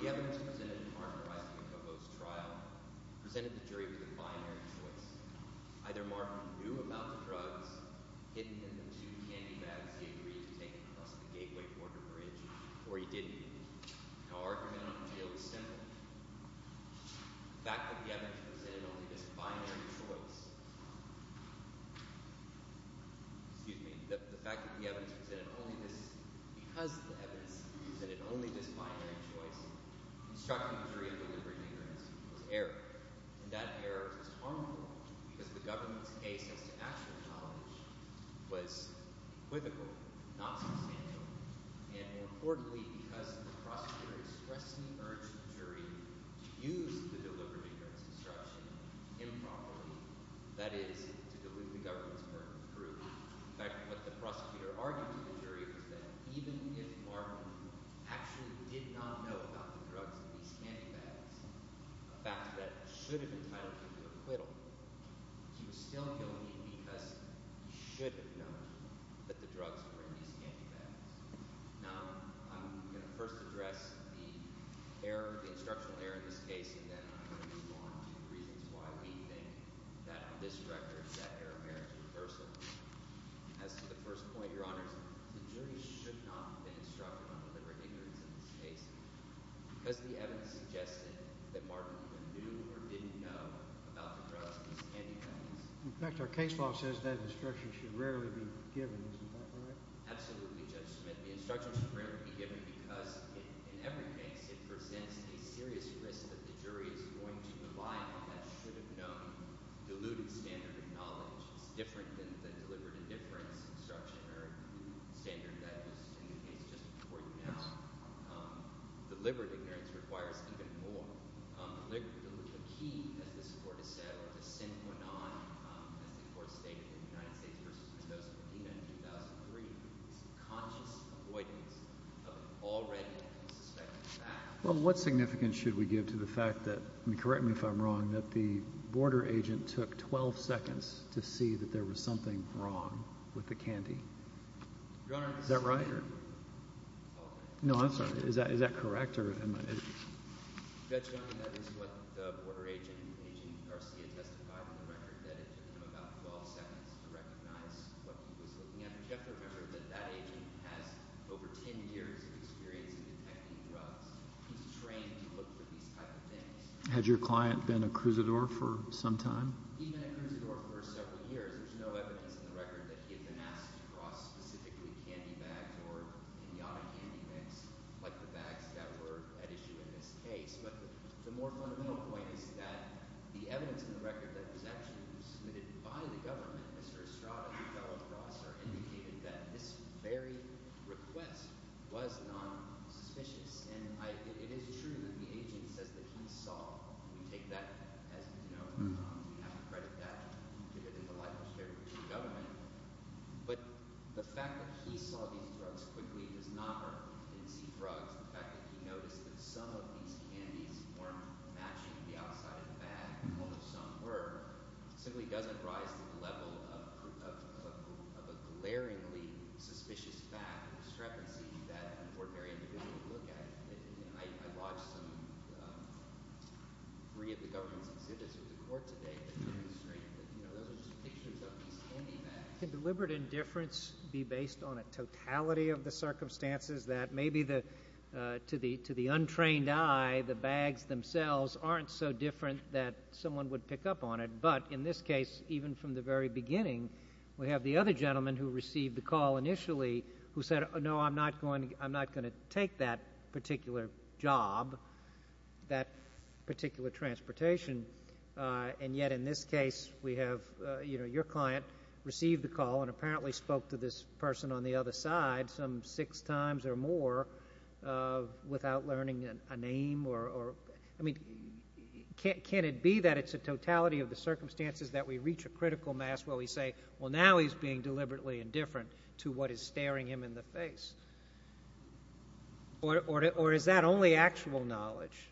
The evidence presented in Martin Araiza-Jacobo's trial presented the jury with a binary choice. Either Martin knew about the drugs hidden in the two candy bags he agreed to take across the Gateway Border Bridge, or he didn't. Our argument on the field is simple. The fact that the evidence presented only this binary choice—excuse me. The fact that the evidence presented only this—because the evidence presented only this binary choice, instructing the jury to deliver the ignorance was error. And that error was harmful because the government's case as to actual knowledge was equivocal, not substantial. And more importantly, because the prosecutor expressly urged the jury to use the delivery of ignorance disruption improperly—that is, to dilute the government's burden of proof. In fact, what the prosecutor argued to the jury was that even if Martin actually did not know about the drugs in these candy bags—a fact that should have entitled him to acquittal— he was still guilty because he should have known that the drugs were in these candy bags. Now, I'm going to first address the error—the instructional error in this case, and then I'm going to move on to the reasons why we think that this record—that error merits reversal. As to the first point, Your Honors, the jury should not have been instructed on delivering ignorance in this case because the evidence suggested that Martin either knew or didn't know about the drugs in these candy bags. JUSTICE KENNEDY In fact, our case law says that instruction should rarely be given. Isn't that right? Absolutely, Judge Smith. The instruction should rarely be given because, in every case, it presents a serious risk that the jury is going to rely on that should-have-known diluted standard of knowledge. It's different than the deliberate indifference instruction or standard that was in the case just before you now. Deliberate ignorance requires even more. Deliberate—the key, as this Court has said, or the sine qua non, as the Court stated in the United States v. Mendoza, Medina in 2003, is conscious avoidance of already suspected facts. Well, what significance should we give to the fact that—and correct me if I'm wrong—that the border agent took 12 seconds to see that there was something wrong with the candy? Your Honor— Is that right? No, I'm sorry. Is that correct? Had your client been a cruisador for some time? I don't know if he was a cruisador in the auto candy mix like the bags that were at issue in this case. But the more fundamental point is that the evidence in the record that was actually submitted by the government, Mr. Estrada, the fellow at Rosser, indicated that this very request was non-suspicious. And it is true that the agent says that he saw—we take that as a no—we have to credit that to the delightful spirit of the government. But the fact that he saw these drugs quickly does not mean he didn't see drugs. The fact that he noticed that some of these candies weren't matching the outside of the bag, although some were, simply doesn't rise to the level of a glaringly suspicious fact or discrepancy that an ordinary individual would look at. I watched some—three of the government's exhibits with the court today that demonstrate that those are just pictures of these candy bags. job, that particular transportation. And yet in this case, we have—your client received the call and apparently spoke to this person on the other side some six times or more without learning a name. I mean, can it be that it's a totality of the circumstances that we reach a critical mass where we say, well, now he's being deliberately indifferent to what is staring him in the face? Or is that only actual knowledge?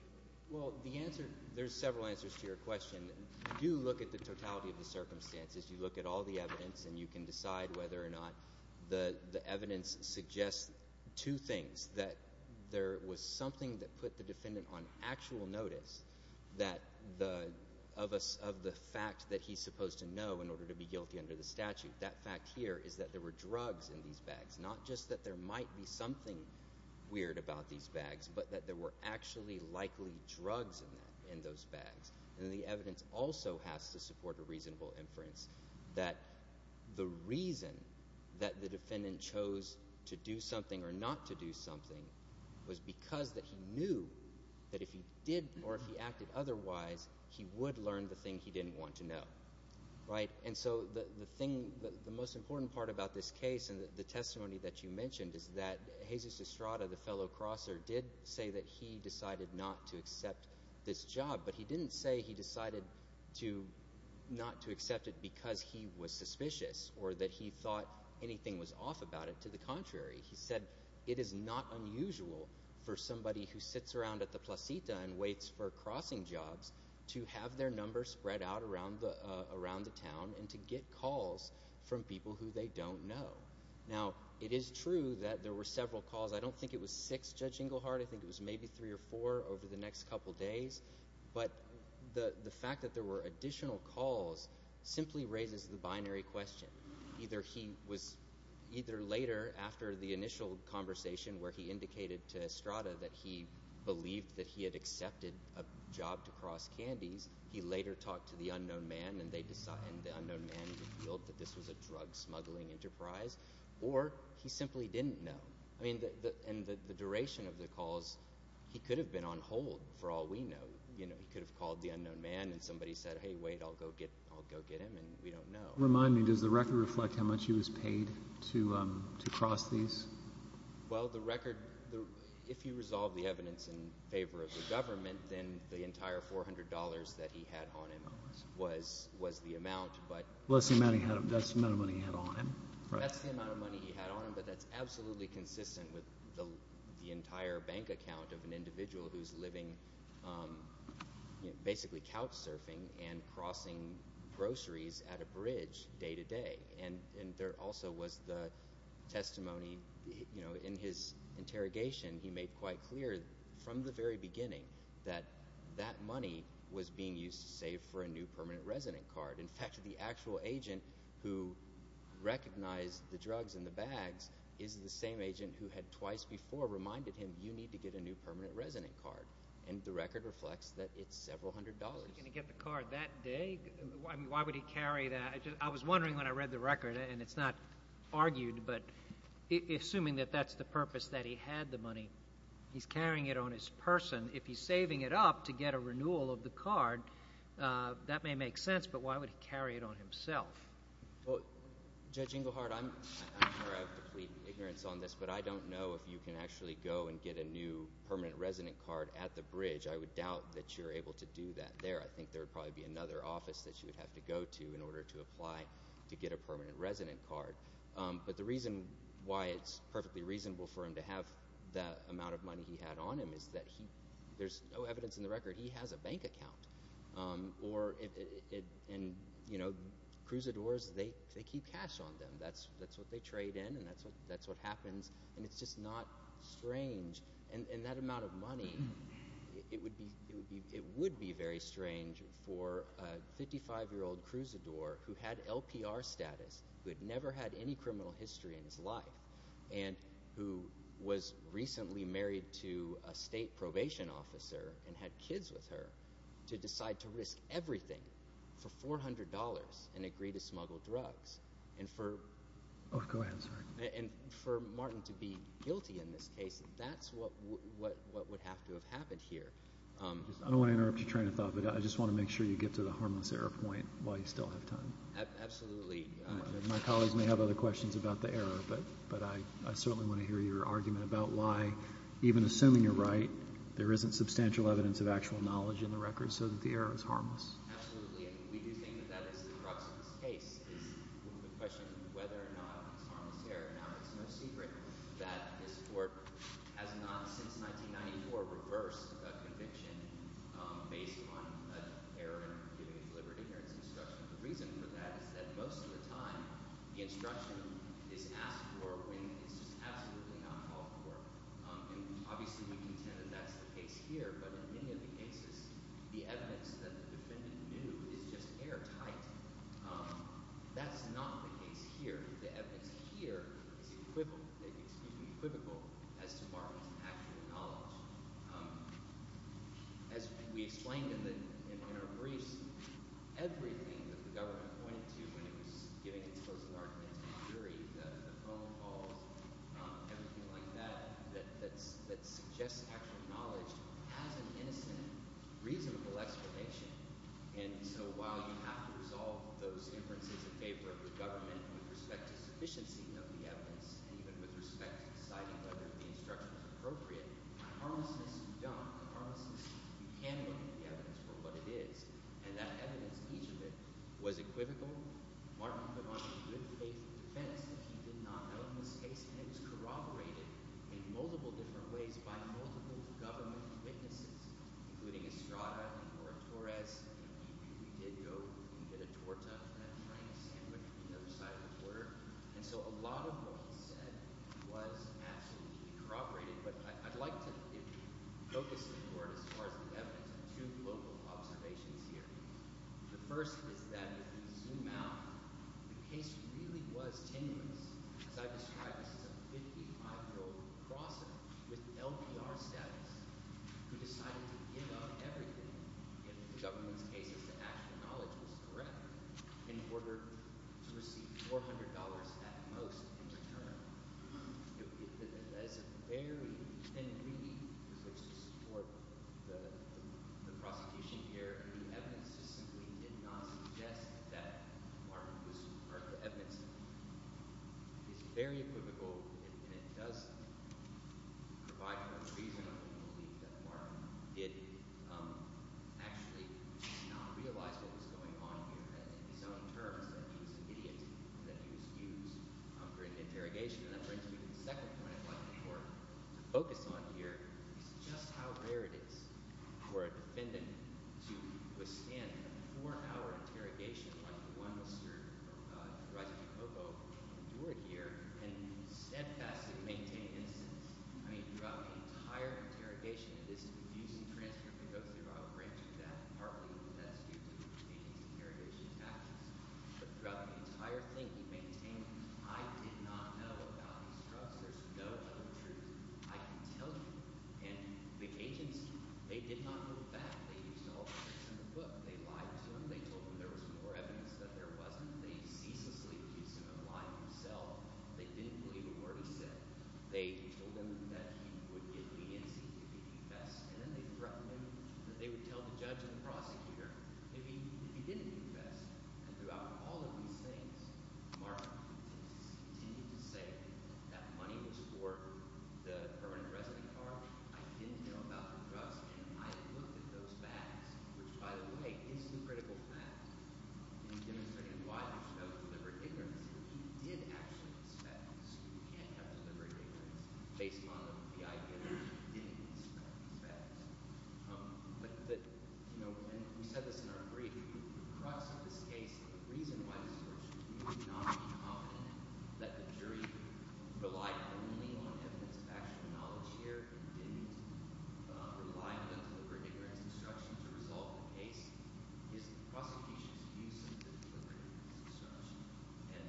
Well, the answer—there's several answers to your question. You do look at the totality of the circumstances. You look at all the evidence, and you can decide whether or not the evidence suggests two things, that there was something that put the defendant on actual notice that the—of the fact that he's supposed to know in order to be guilty under the statute. That fact here is that there were drugs in these bags, not just that there might be something weird about these bags but that there were actually likely drugs in those bags. And the evidence also has to support a reasonable inference that the reason that the defendant chose to do something or not to do something was because that he knew that if he did or if he acted otherwise, he would learn the thing he didn't want to know. And so the thing—the most important part about this case and the testimony that you mentioned is that Jesus Estrada, the fellow crosser, did say that he decided not to accept this job. But he didn't say he decided to—not to accept it because he was suspicious or that he thought anything was off about it. On the contrary, he said it is not unusual for somebody who sits around at the placita and waits for crossing jobs to have their numbers spread out around the town and to get calls from people who they don't know. Now, it is true that there were several calls. I don't think it was six, Judge Englehardt. I think it was maybe three or four over the next couple days. But the fact that there were additional calls simply raises the binary question. Either he was—either later after the initial conversation where he indicated to Estrada that he believed that he had accepted a job to cross candies, he later talked to the unknown man and the unknown man revealed that this was a drug smuggling enterprise, or he simply didn't know. I mean, in the duration of the calls, he could have been on hold for all we know. He could have called the unknown man and somebody said, hey, wait, I'll go get him, and we don't know. Remind me, does the record reflect how much he was paid to cross these? Well, the record—if you resolve the evidence in favor of the government, then the entire $400 that he had on him was the amount, but— Well, that's the amount of money he had on him. That's the amount of money he had on him, but that's absolutely consistent with the entire bank account of an individual who's living basically couch surfing and crossing groceries at a bridge day to day. And there also was the testimony in his interrogation. He made quite clear from the very beginning that that money was being used to save for a new permanent resident card. In fact, the actual agent who recognized the drugs in the bags is the same agent who had twice before reminded him you need to get a new permanent resident card. And the record reflects that it's several hundred dollars. Was he going to get the card that day? I mean, why would he carry that? I was wondering when I read the record, and it's not argued, but assuming that that's the purpose that he had the money, he's carrying it on his person. If he's saving it up to get a renewal of the card, that may make sense, but why would he carry it on himself? Well, Judge Engelhardt, I'm not sure I have complete ignorance on this, but I don't know if you can actually go and get a new permanent resident card at the bridge. I would doubt that you're able to do that there. I think there would probably be another office that you would have to go to in order to apply to get a permanent resident card. But the reason why it's perfectly reasonable for him to have that amount of money he had on him is that there's no evidence in the record he has a bank account. And, you know, cruisadores, they keep cash on them. That's what they trade in, and that's what happens, and it's just not strange. And that amount of money, it would be very strange for a 55-year-old cruisador who had LPR status, who had never had any criminal history in his life, and who was recently married to a state probation officer and had kids with her to decide to risk everything for $400 and agree to smuggle drugs. And for Martin to be guilty in this case, that's what would have to have happened here. I don't want to interrupt your train of thought, but I just want to make sure you get to the harmless error point while you still have time. Absolutely. My colleagues may have other questions about the error, but I certainly want to hear your argument about why, even assuming you're right, there isn't substantial evidence of actual knowledge in the record so that the error is harmless. Absolutely. And we do think that that is the crux of this case is the question of whether or not it's harmless error. Now, it's no secret that this court has not since 1994 reversed a conviction based on an error in giving its liberty or its instruction. The reason for that is that most of the time the instruction is asked for when it's just absolutely not called for. And obviously we contend that that's the case here, but in many of the cases, the evidence that the defendant knew is just airtight. That's not the case here. The evidence here is equivocal as to Martin's actual knowledge. As we explained in our briefs, everything that the government pointed to when it was giving its closing arguments, the jury, the phone calls, everything like that, that suggests actual knowledge has an innocent, reasonable explanation. And so while you have to resolve those inferences in favor of the government with respect to sufficiency of the evidence and even with respect to deciding whether the instruction is appropriate, by harmlessness, you don't. By harmlessness, you can look at the evidence for what it is. And that evidence, each of it, was equivocal. Martin put on a good face of defense that he did not know in this case, and it was corroborated in multiple different ways by multiple government witnesses, including Estrada and Nora Torres. He did go and get a torta and a frank sandwich from the other side of the border. And so a lot of what he said was absolutely corroborated. But I'd like to focus it toward, as far as the evidence, on two local observations here. The first is that, if you zoom out, the case really was tenuous. As I described, this is a 55-year-old prosecutor with LPR status who decided to give up everything, in the government's case, if the actual knowledge was correct, in order to receive $400 at most in return. That is a very – and really, in order to support the prosecution here, the evidence just simply did not suggest that Martin was – or the evidence is very equivocal. And it does provide for the reason, I believe, that Martin did actually not realize what was going on here. In his own terms, that he was an idiot and that he was used for an interrogation. And I'm going to move to the second point I'd like the court to focus on here. It's just how rare it is for a defendant to withstand a four-hour interrogation like the one with Sir Roger DiCocco, who endured here, and steadfastly maintain innocence. I mean, throughout the entire interrogation, it is a confusing transcript that goes throughout, granted that partly because that's due to the agent's interrogation tactics. But throughout the entire thing, he maintained, I did not know about these drugs. There's no other truth. I can tell you. And the agents, they did not hold back. They used all the evidence in the book. They lied to him. They told him there was more evidence than there wasn't. They ceaselessly used him and lied to himself. They didn't believe a word he said. They told him that he would give me incense if he confessed. And then they threatened him that they would tell the judge and the prosecutor if he didn't confess. And throughout all of these things, Mark continued to say that money was for the permanent resident card. I didn't know about the drugs, and I had looked at those bags, which, by the way, is the critical fact in demonstrating why there's no deliberate ignorance. The fact is that he did actually confess, and we can't have deliberate ignorance based on the idea that he didn't confess. But, you know, and we said this in our brief. The crux of this case and the reason why the jury should not be confident that the jury relied only on evidence of actual knowledge here and didn't rely on deliberate ignorance instruction to resolve the case is the prosecution's use of deliberate ignorance instruction. And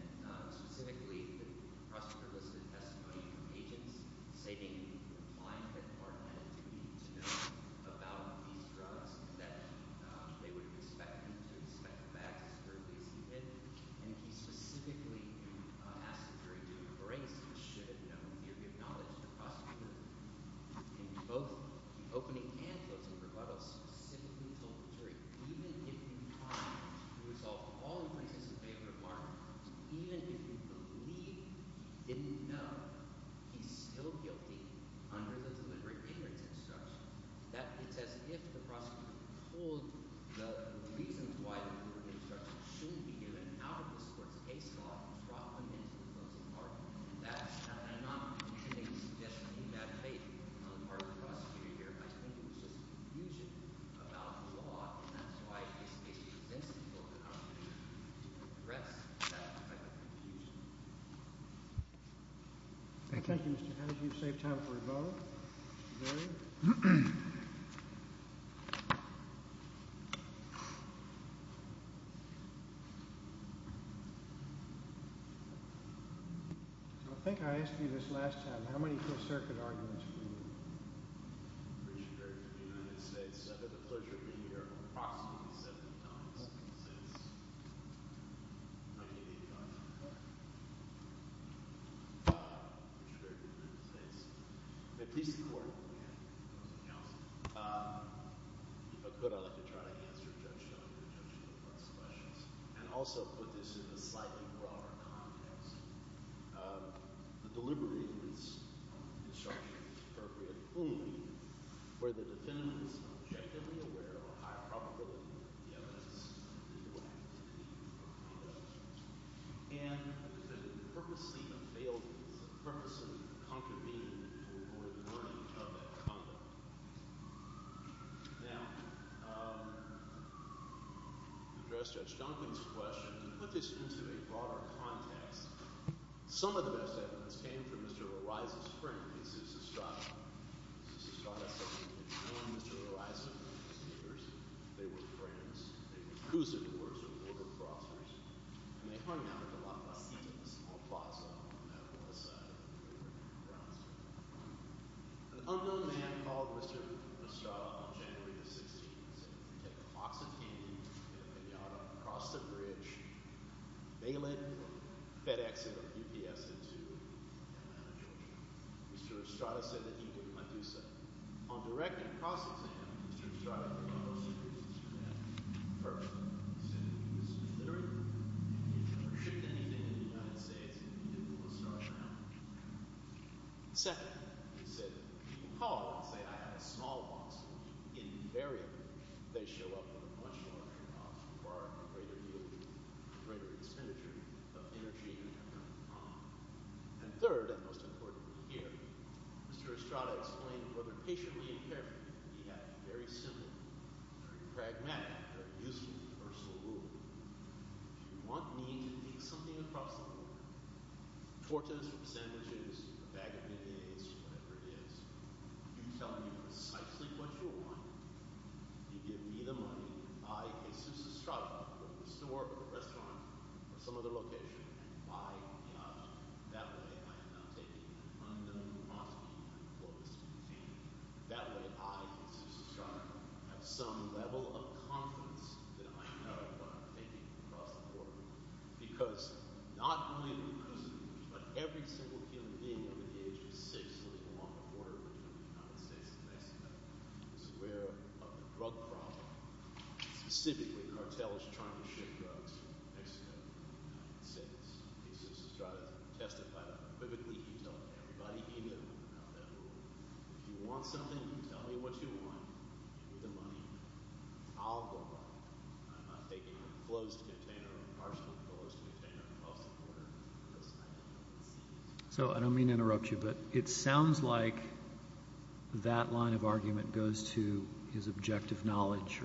specifically, the prosecutor listed testimony from agents stating he replied that Mark had a duty to know about these drugs, that they would expect him to inspect the bags as thoroughly as he did. And he specifically asked the jury to embrace the should-have-known theory of knowledge of the prosecutor. In both the opening and closing rebuttals, he specifically told the jury, even if you try to resolve all the cases in favor of Mark, even if you believe he didn't know, he's still guilty under the deliberate ignorance instruction. It's as if the prosecutor pulled the reasons why deliberate ignorance instruction shouldn't be given out of this court's case law and dropped them into the closing argument. That's how – and I'm not making suggestions in that faith on the part of the prosecutor here. I think it was just confusion about the law. And that's why this case presents people with an opportunity to address that type of confusion. Thank you. Thank you, Mr. Hedges. You've saved time for a vote. Mr. Berry? I think I asked you this last time. How many First Circuit arguments do you have? I'm Richard Berry from the United States. I've had the pleasure of being here approximately 70 times since 1985. Richard Berry from the United States. At least in court. If I could, I'd like to try to answer Judge Schoenberg's questions and also put this in a slightly broader context. The deliberate ignorance instruction is appropriate only where the defendant is objectively aware of a high probability that the evidence is correct. And the purpose of the failings, the purpose of the conconvening, is to avoid warning of that conduct. Now, to address Judge Duncan's question, put this into a broader context. Some of the best evidence came from Mr. Roriza's friend, Mr. Sousa Strada. Mr. Sousa Strada said he had known Mr. Roriza for years. They were friends. They were cruisers. They were border crossers. And they hung out at the La Placita small plaza on the west side of the river in France. An unknown man called Mr. Strada on January the 16th and said, Take a box of candy, get it in the auto, cross the bridge, bail it, or FedEx it or UPS it to Atlanta, Georgia. Mr. Strada said that he would not do so. On directing a cross-exam, Mr. Strada put all those secrets to bed. First, he said that he was illiterate. He had never shipped anything in the United States. Second, he said that people call him and say, I have a small box. Invariably, they show up with a much larger box, requiring a greater yield, a greater expenditure of energy and time. And third, and most importantly here, Mr. Strada explained whether patiently and carefully, he had a very simple, very pragmatic, very useful universal rule. If you want me to take something across the border, tortas or sandwiches or a bag of M&A's or whatever it is, you tell me precisely what you want. You give me the money. I, Jesus Strada, go to the store or the restaurant or some other location and buy the object. That way, I am not taking an unknown commodity I'm close to obtaining. That way, I, Jesus Strada, have some level of confidence that I know what I'm taking across the border. Because not only the person, but every single human being over the age of six living along the border between the United States and Mexico is aware of the drug problem. Specifically, cartels trying to ship drugs from Mexico to the United States. Jesus Strada testified equivocally. He told everybody he knew about that rule. If you want something, you tell me what you want. You give me the money. I'll go to the store. I'm not taking a closed container, partially closed container across the border. So I don't mean to interrupt you, but it sounds like that line of argument goes to his objective knowledge.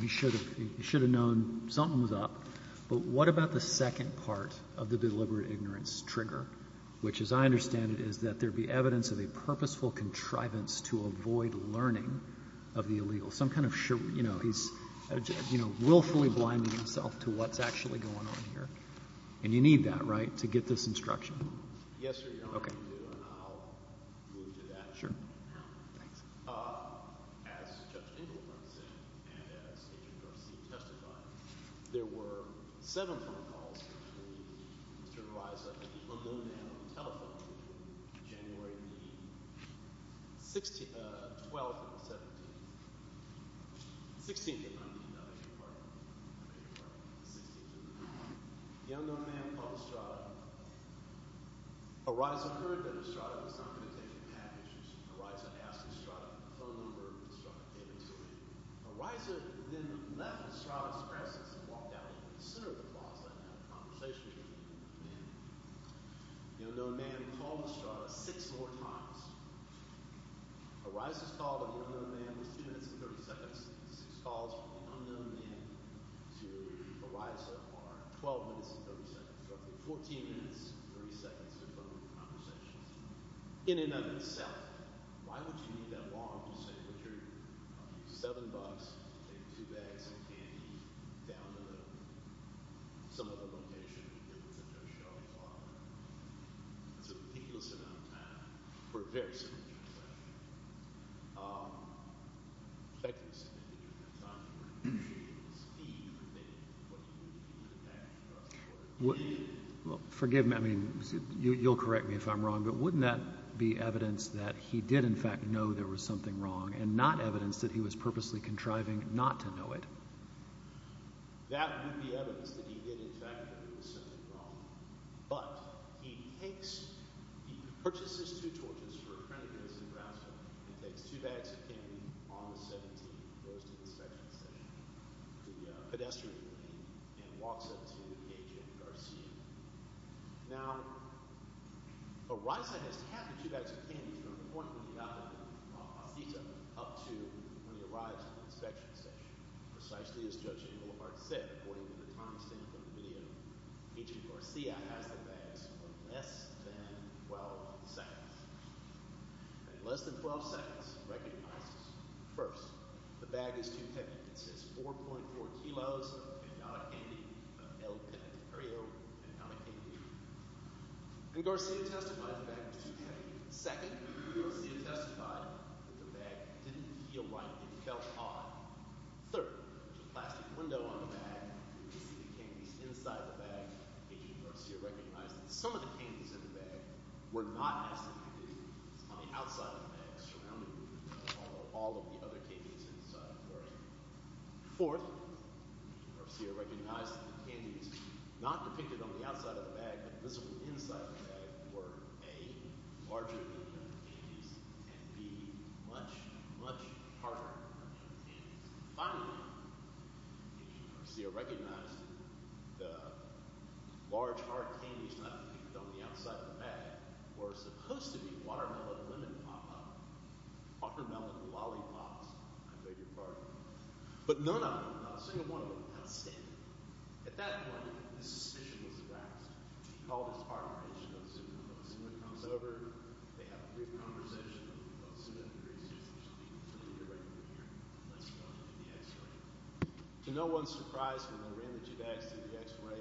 He should have known something was up. But what about the second part of the deliberate ignorance trigger, which as I understand it is that there be evidence of a purposeful contrivance to avoid learning of the illegal. So I'm kind of sure, you know, he's willfully blinding himself to what's actually going on here. And you need that, right, to get this instruction? Yes, Your Honor. Okay. I'll move to that. Sure. Thanks. As Judge Engelberg said and as Agent Garcia testified, there were seven phone calls between Mr. Araiza and the unknown man on the telephone between January the 12th and the 17th. The 16th, if I'm not mistaken. I think you're right. The 16th and the 19th. The unknown man called Strada. Araiza heard that Strada was not going to take the package. Araiza asked Strada for a phone number and Strada gave it to him. Araiza then left Strada's presence and walked out into the center of the plaza and had a conversation with the unknown man. The unknown man called Strada six more times. Araiza's call to the unknown man was two minutes and 30 seconds. Six calls from the unknown man to Araiza are 12 minutes and 30 seconds. Roughly 14 minutes and 30 seconds of phone conversations. In and of itself, why would you need that long to say what you're going to do? Seven bucks, take two bags of candy, down the road, some other location and get with a no-show father. It's a ridiculous amount of time for a very simple transaction. Thank you for spending your time. We appreciate it. Steve, what do you think? What do you think the package was worth? Well, forgive me. I mean, you'll correct me if I'm wrong, but wouldn't that be evidence that he did, in fact, know there was something wrong and not evidence that he was purposely contriving not to know it? That would be evidence that he did, in fact, know there was something wrong. But he purchases two torches for a friend of his in Brasov and takes two bags of candy on the 17th, goes to the second station, the pedestrian lane, and walks up to Agent Garcia. Now, a riser has to have the two bags of candy from the point when he got them on FITA up to when he arrives at the inspection station. Precisely as Judge Abelhard said, according to the timestamp in the video, Agent Garcia has the bags for less than 12 seconds. In less than 12 seconds, he recognizes, First, the bag is too heavy. It says 4.4 kilos of candy, of el pepero, and not a candy. And Garcia testified the bag was too heavy. Second, Garcia testified that the bag didn't feel right. It felt odd. Third, there's a plastic window on the bag. You can see the candies inside the bag. Agent Garcia recognized that some of the candies in the bag were not as heavy as the candies on the outside of the bag surrounding all of the other candies inside. Fourth, Garcia recognized that the candies not depicted on the outside of the bag but visible inside the bag were, A, larger than the other candies, and, B, much, much harder than the other candies. Finally, Garcia recognized that the large, hard candies not depicted on the outside of the bag were supposed to be watermelon and lemon pop-up. Watermelon lollipops, I beg your pardon. But none of them, not a single one of them, outstanding. At that point, the suspicion was aroused. He called his partner, Agent O'Sullivan. O'Sullivan comes over. They have a brief conversation. O'Sullivan agrees. O'Sullivan, you're right in the mirror. Let's go to the x-ray. To no one's surprise, when they ran the two bags through the x-ray,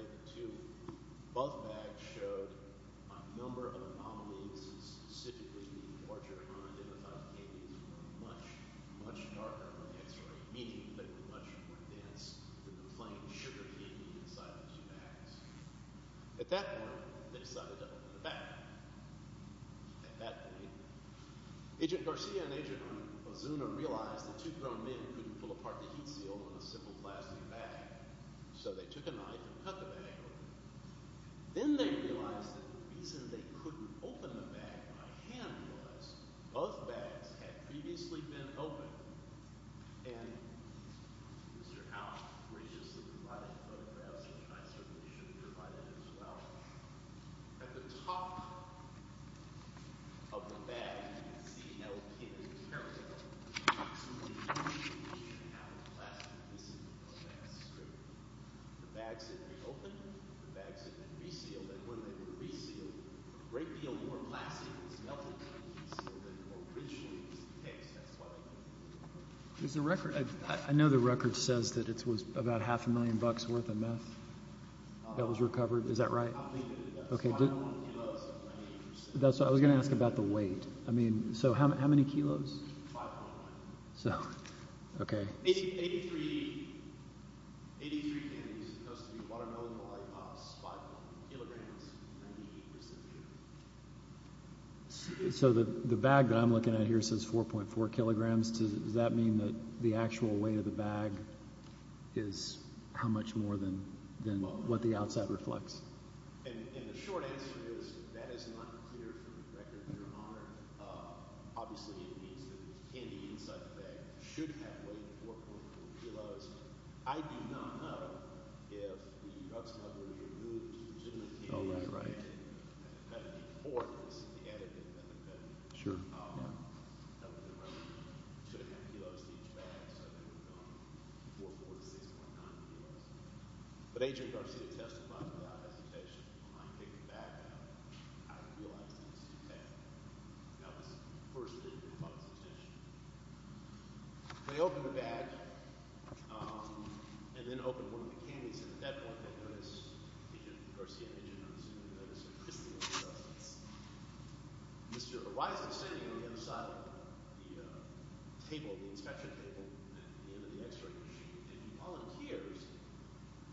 both bags showed a number of anomalies, specifically the larger, unidentified candies were much, much darker on the x-ray, meaning they were much more dense than the plain sugar candy inside the two bags. At that point, they decided to open the bag. At that point, Agent Garcia and Agent Ozuna realized the two grown men couldn't pull apart the heat seal on a simple plastic bag, so they took a knife and cut the bag open. Then they realized that the reason they couldn't open the bag by hand was both bags had previously been opened. And Mr. Allen graciously provided photographs, and I certainly should have provided them as well. At the top of the bag, you can see L. Kim's character. The bags had been opened. The bags had been resealed. And when they were resealed, a great deal more plastic was melted to make the seal that originally was the case. That's why they opened it. I know the record says that it was about half a million bucks worth of meth that was recovered. Is that right? I believe it is. The final kilos are 98%. I was going to ask about the weight. I mean, so how many kilos? So, okay. So the bag that I'm looking at here says 4.4 kilograms. Does that mean that the actual weight of the bag is how much more than what the outside reflects? It should have weighed 4.4 kilos. I do not know if the drug smuggler removed legitimate candy as a penalty for this. Sure. But Agent Garcia testified without hesitation. When I picked it back up, I realized it was too bad. That was the first thing that caught my attention. They opened the bag and then opened one of the candies. And at that point, they noticed, Agent Garcia and Agent Hudson, they noticed a crispy little substance. Mr. Weiser, standing on the other side of the table, the inspection table at the end of the x-ray machine, and he volunteers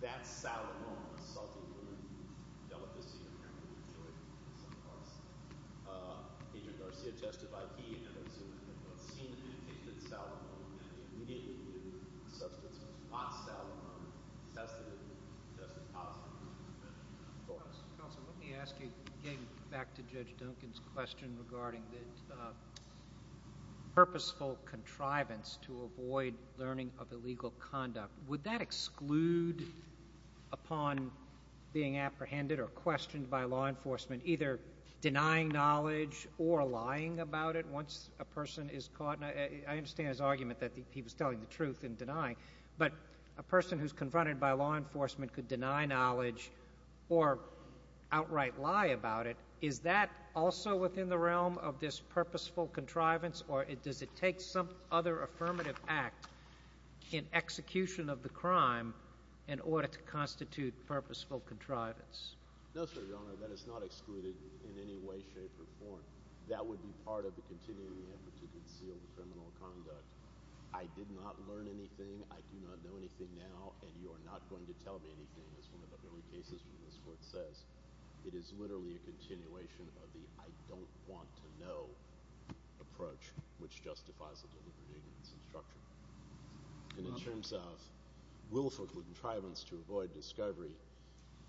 that salad ball, a salty one, and he delivered this to Agent Garcia. Agent Garcia testified he and Agent Hudson had both seen and tasted the salad ball, and they immediately knew the substance was not salad ball. It has to have been adjusted positively. Counselor, let me ask you, getting back to Judge Duncan's question regarding the purposeful contrivance to avoid learning of illegal conduct. Would that exclude upon being apprehended or questioned by law enforcement either denying knowledge or lying about it once a person is caught? I understand his argument that he was telling the truth and denying, but a person who's confronted by law enforcement could deny knowledge or outright lie about it. Is that also within the realm of this purposeful contrivance, or does it take some other affirmative act in execution of the crime in order to constitute purposeful contrivance? No, sir, Your Honor. That is not excluded in any way, shape, or form. That would be part of the continuing effort to conceal the criminal conduct. I did not learn anything. I do not know anything now, and you are not going to tell me anything, as one of the early cases from this Court says. It is literally a continuation of the I don't want to know approach, which justifies the delivery of this instruction. And in terms of willful contrivance to avoid discovery,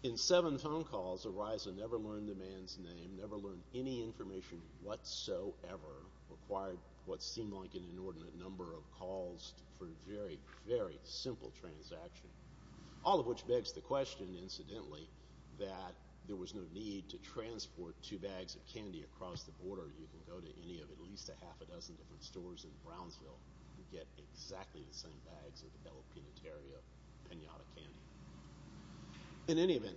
in seven phone calls, Ariza never learned the man's name, never learned any information whatsoever, acquired what seemed like an inordinate number of calls for a very, very simple transaction, all of which begs the question, incidentally, that there was no need to transport two bags of candy across the border. You can go to any of at least a half a dozen different stores in Brownsville and get exactly the same bags of Jalapeno Terria pinata candy. In any event,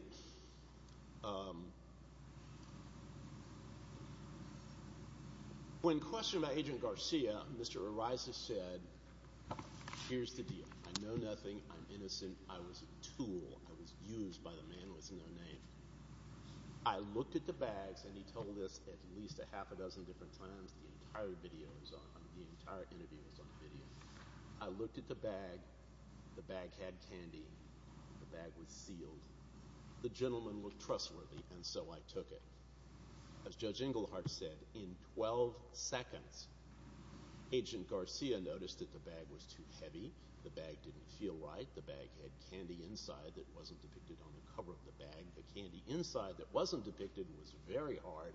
when questioned by Agent Garcia, Mr. Ariza said, here's the deal. I know nothing. I'm innocent. I was a tool. I was used by the man with no name. I looked at the bags, and he told this at least a half a dozen different times. The entire video was on. The entire interview was on video. I looked at the bag. The bag had candy. The bag was sealed. The gentleman looked trustworthy, and so I took it. As Judge Inglehart said, in 12 seconds, Agent Garcia noticed that the bag was too heavy. The bag didn't feel right. The bag had candy inside that wasn't depicted on the cover of the bag. The candy inside that wasn't depicted was very hard,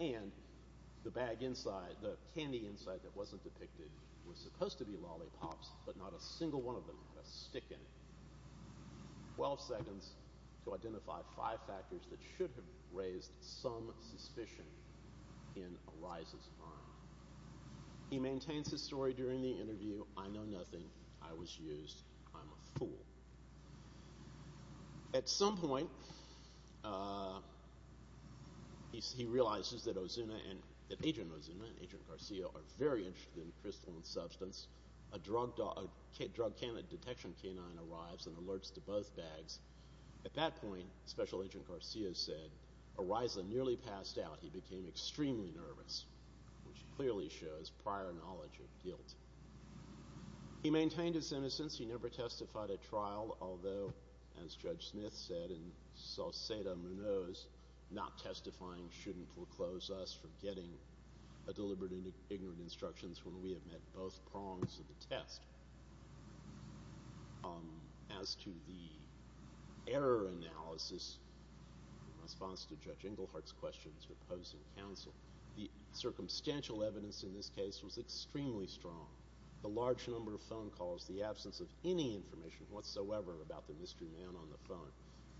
and the candy inside that wasn't depicted was supposed to be lollipops, but not a single one of them had a stick in it. Twelve seconds to identify five factors that should have raised some suspicion in Ariza's mind. He maintains his story during the interview. I know nothing. I was used. I'm a fool. At some point, he realizes that Agent Ozuna and Agent Garcia are very interested in crystalline substance. A drug-candidate detection canine arrives and alerts to both bags. At that point, Special Agent Garcia said, Ariza nearly passed out. He became extremely nervous, which clearly shows prior knowledge of guilt. He maintained his innocence. He never testified at trial, although, as Judge Smith said in Salcedo-Munoz, not testifying shouldn't foreclose us from getting deliberate and ignorant instructions when we have met both prongs of the test. As to the error analysis in response to Judge Engelhardt's questions proposing counsel, the circumstantial evidence in this case was extremely strong. The large number of phone calls, the absence of any information whatsoever about the mystery man on the phone,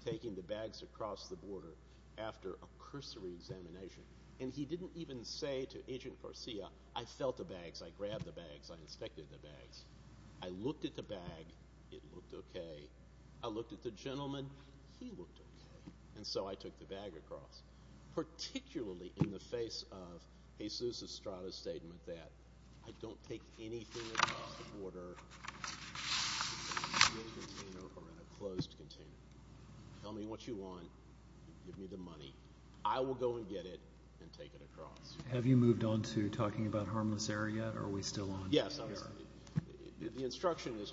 taking the bags across the border after a cursory examination. And he didn't even say to Agent Garcia, I felt the bags. I grabbed the bags. I inspected the bags. I looked at the bag. It looked okay. I looked at the gentleman. He looked okay. And so I took the bag across, particularly in the face of Jesus Estrada's statement that I don't take anything across the border in a sealed container or in a closed container. Tell me what you want. Give me the money. I will go and get it and take it across. Have you moved on to talking about harmless error yet, or are we still on? Yes. The instruction is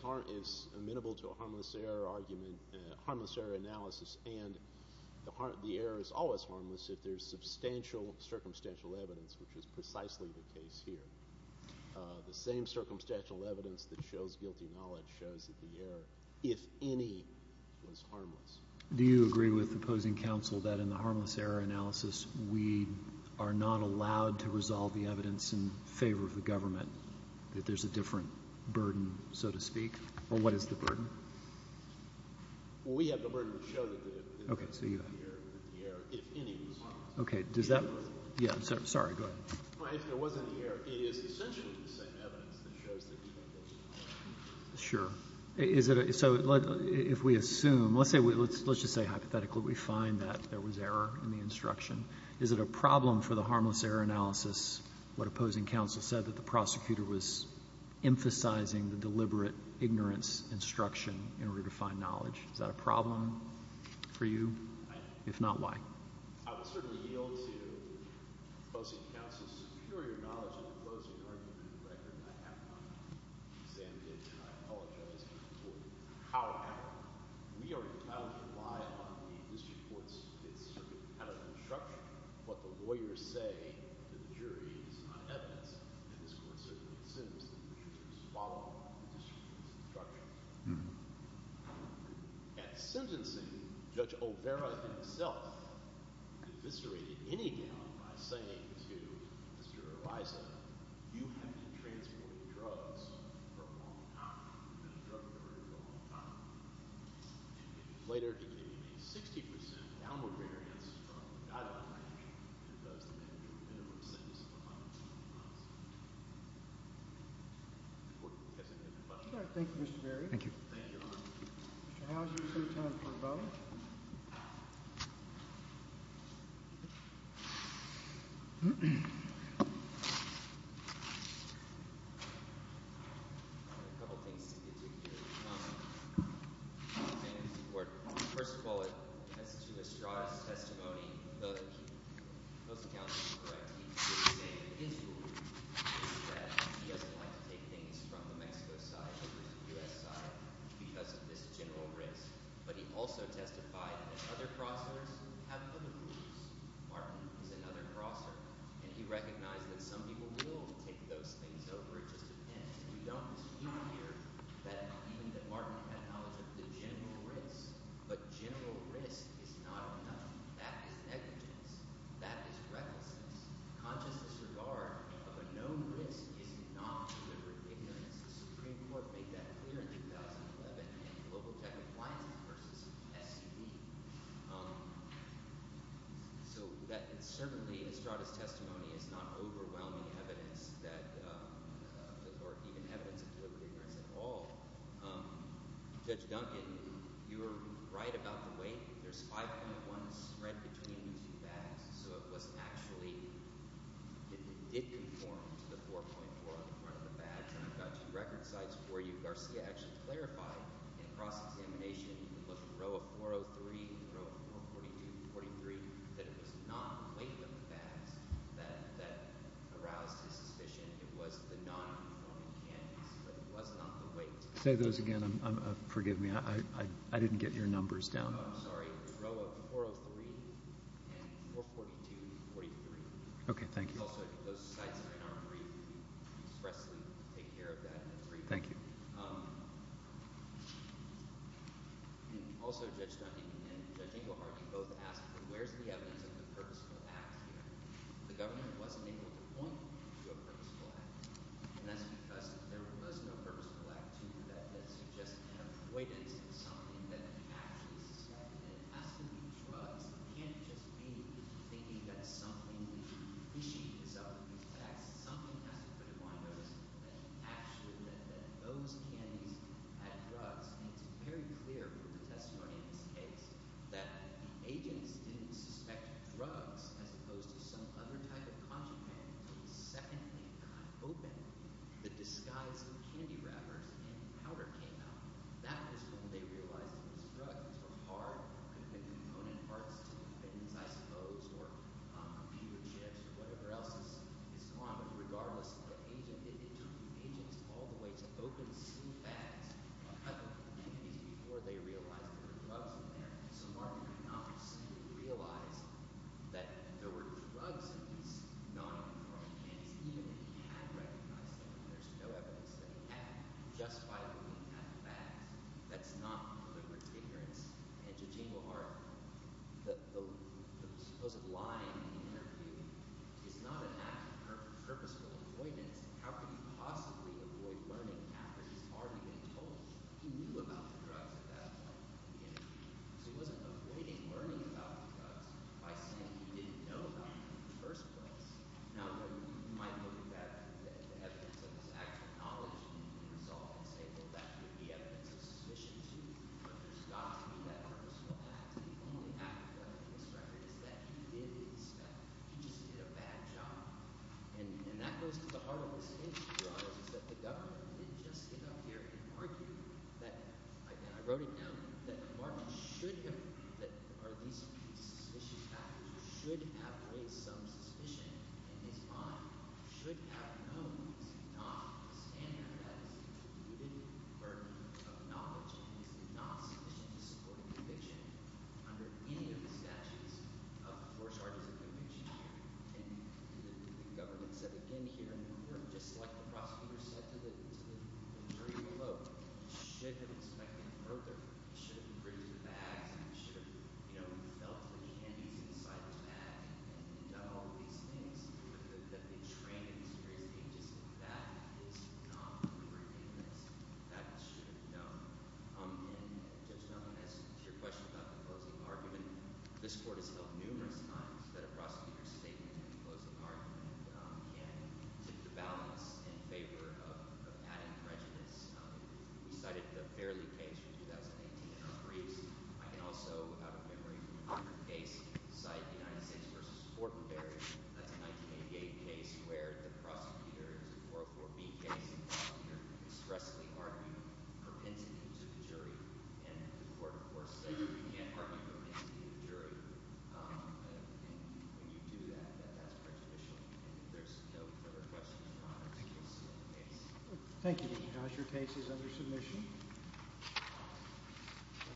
amenable to a harmless error analysis, and the error is always harmless if there's substantial circumstantial evidence, which is precisely the case here. The same circumstantial evidence that shows guilty knowledge shows that the error, if any, was harmless. Do you agree with opposing counsel that in the harmless error analysis, we are not allowed to resolve the evidence in favor of the government, that there's a different burden, so to speak? Or what is the burden? Well, we have the burden to show that the error was harmless. Okay. Sorry. Go ahead. Well, if there was any error, it is essentially the same evidence that shows that the error was harmless. Sure. So if we assume, let's just say hypothetically we find that there was error in the instruction. Is it a problem for the harmless error analysis, what opposing counsel said, that the prosecutor was emphasizing the deliberate ignorance instruction in order to find knowledge? Is that a problem for you? If not, why? I would certainly yield to opposing counsel's superior knowledge of the closing argument in the record. I have not examined it, and I apologize for it. However, we are allowed to rely on the district court's circuit-patterned instruction. What the lawyers say to the jury is not evidence, and this court certainly assumes that the judge was following the district's instruction. At sentencing, Judge O'Vara himself eviscerated any doubt by saying to Mr. Bison, you have been transporting drugs for a long time. You've been a drug carrier for a long time. And he later gave you a 60% downward variance from the guideline that does the minimum sentence of a 5-month sentence. Does that answer your question? All right. Thank you, Mr. Berry. Thank you. Thank you. Mr. Houser, is there time for a vote? All right. I have a couple of things to get to here. First of all, as to Estrada's testimony, those accounts are correct. He did say in his ruling that he doesn't like to take things from the Mexico side over to the U.S. side because of this general risk. But he also testified that other crossers have other rules. Martin is another crosser. And he recognized that some people will take those things over. It just depends. We don't dispute here that even Martin had knowledge of the general risk. But general risk is not enough. That is negligence. That is recklessness. Conscious disregard of a known risk is not deliberate ignorance. The Supreme Court made that clear in 2011 in global tech compliance versus SUD. So certainly Estrada's testimony is not overwhelming evidence or even evidence of deliberate ignorance at all. Judge Duncan, you were right about the weight. There's 5.1 spread between these two bags. So it was actually – it did conform to the 4.4 on the front of the record sites for you. Garcia actually clarified in cross-examination, the row of 403 and the row of 442 and 443, that it was not the weight of the bags that aroused his suspicion. It was the non-conforming candidates. But it was not the weight. Say those again. Forgive me. I didn't get your numbers down. Oh, I'm sorry. The row of 403 and 442 and 443. Okay. Thank you. Also, those sites are in our brief. We expressly take care of that in the brief. Thank you. Also, Judge Duncan and Judge Englehart, you both asked where's the evidence of a purposeful act here. The government wasn't able to point to a purposeful act. And that's because there was no purposeful act to do that that suggested an avoidance of something that they actually suspected. And it has to be drugs. It can't just be thinking that something fishy is up with these facts. Something has to put a blind eye to that actually, that those candies had drugs. And it's very clear from the testimony in this case, that the agents didn't suspect drugs as opposed to some other type of contraband. The second thing I opened, the disguised candy wrappers and powder came out. That was when they realized it was drugs. It was hard. It could have been component parts to the evidence, I suppose, or computer chips or whatever else is gone. But regardless of the agent, it took the agents all the way to open sealed bags of other candies before they realized there were drugs in there. So Martin could not see or realize that there were drugs in these non-informed candies, even if he had recognized them. There's no evidence that he had. Just by looking at the facts. That's not deliberate ignorance. And to James O'Hara, the supposed lying in the interview is not an act of purposeful avoidance. How could he possibly avoid learning after he's already been told he knew about the drugs at that point in the interview? So he wasn't avoiding learning about the drugs by saying he didn't know about them in the first place. Now, you might look at the evidence of his actual knowledge and resolve and say, well, that could be evidence of suspicion, too. But there's got to be that purposeful act. The only act of evidence in this record is that he did his job. He just did a bad job. And that goes to the heart of this issue, your Honors, is that the government didn't just get up here and argue that – again, I wrote it down – that Martin should have – that these suspicious factors should have raised some suspicion in his mind, should have known he did not stand there. That is, he included burden of knowledge and he did not submission to supporting conviction under any of the statutes of the four charges of conviction here. And the government said, again, here in New York, just like the prosecutor said to the jury below, he should have inspected further. He should have briefed the bags and he should have, you know, felt the candies inside the bag and done all of these things that they trained him to do. He just – that is not forgiveness. That he should have done. And Judge Meldrum, as to your question about the closing argument, this Court has held numerous times that a prosecutor's statement and closing argument can tip the balance in favor of adding prejudice. We cited the Fairley case from 2018 in our briefs. I can also, out of memory, from a different case, cite the United States v. Fortenberry. That's a 1988 case where the prosecutor – it's a 404B case – and the prosecutor expressly argued propensity to the jury. And the Court, of course, said you can't argue propensity to the jury. And when you do that, that's prejudicial. And if there's no further questions, Your Honor, I think you'll see in the case. Thank you, Judge. Your case is under submission.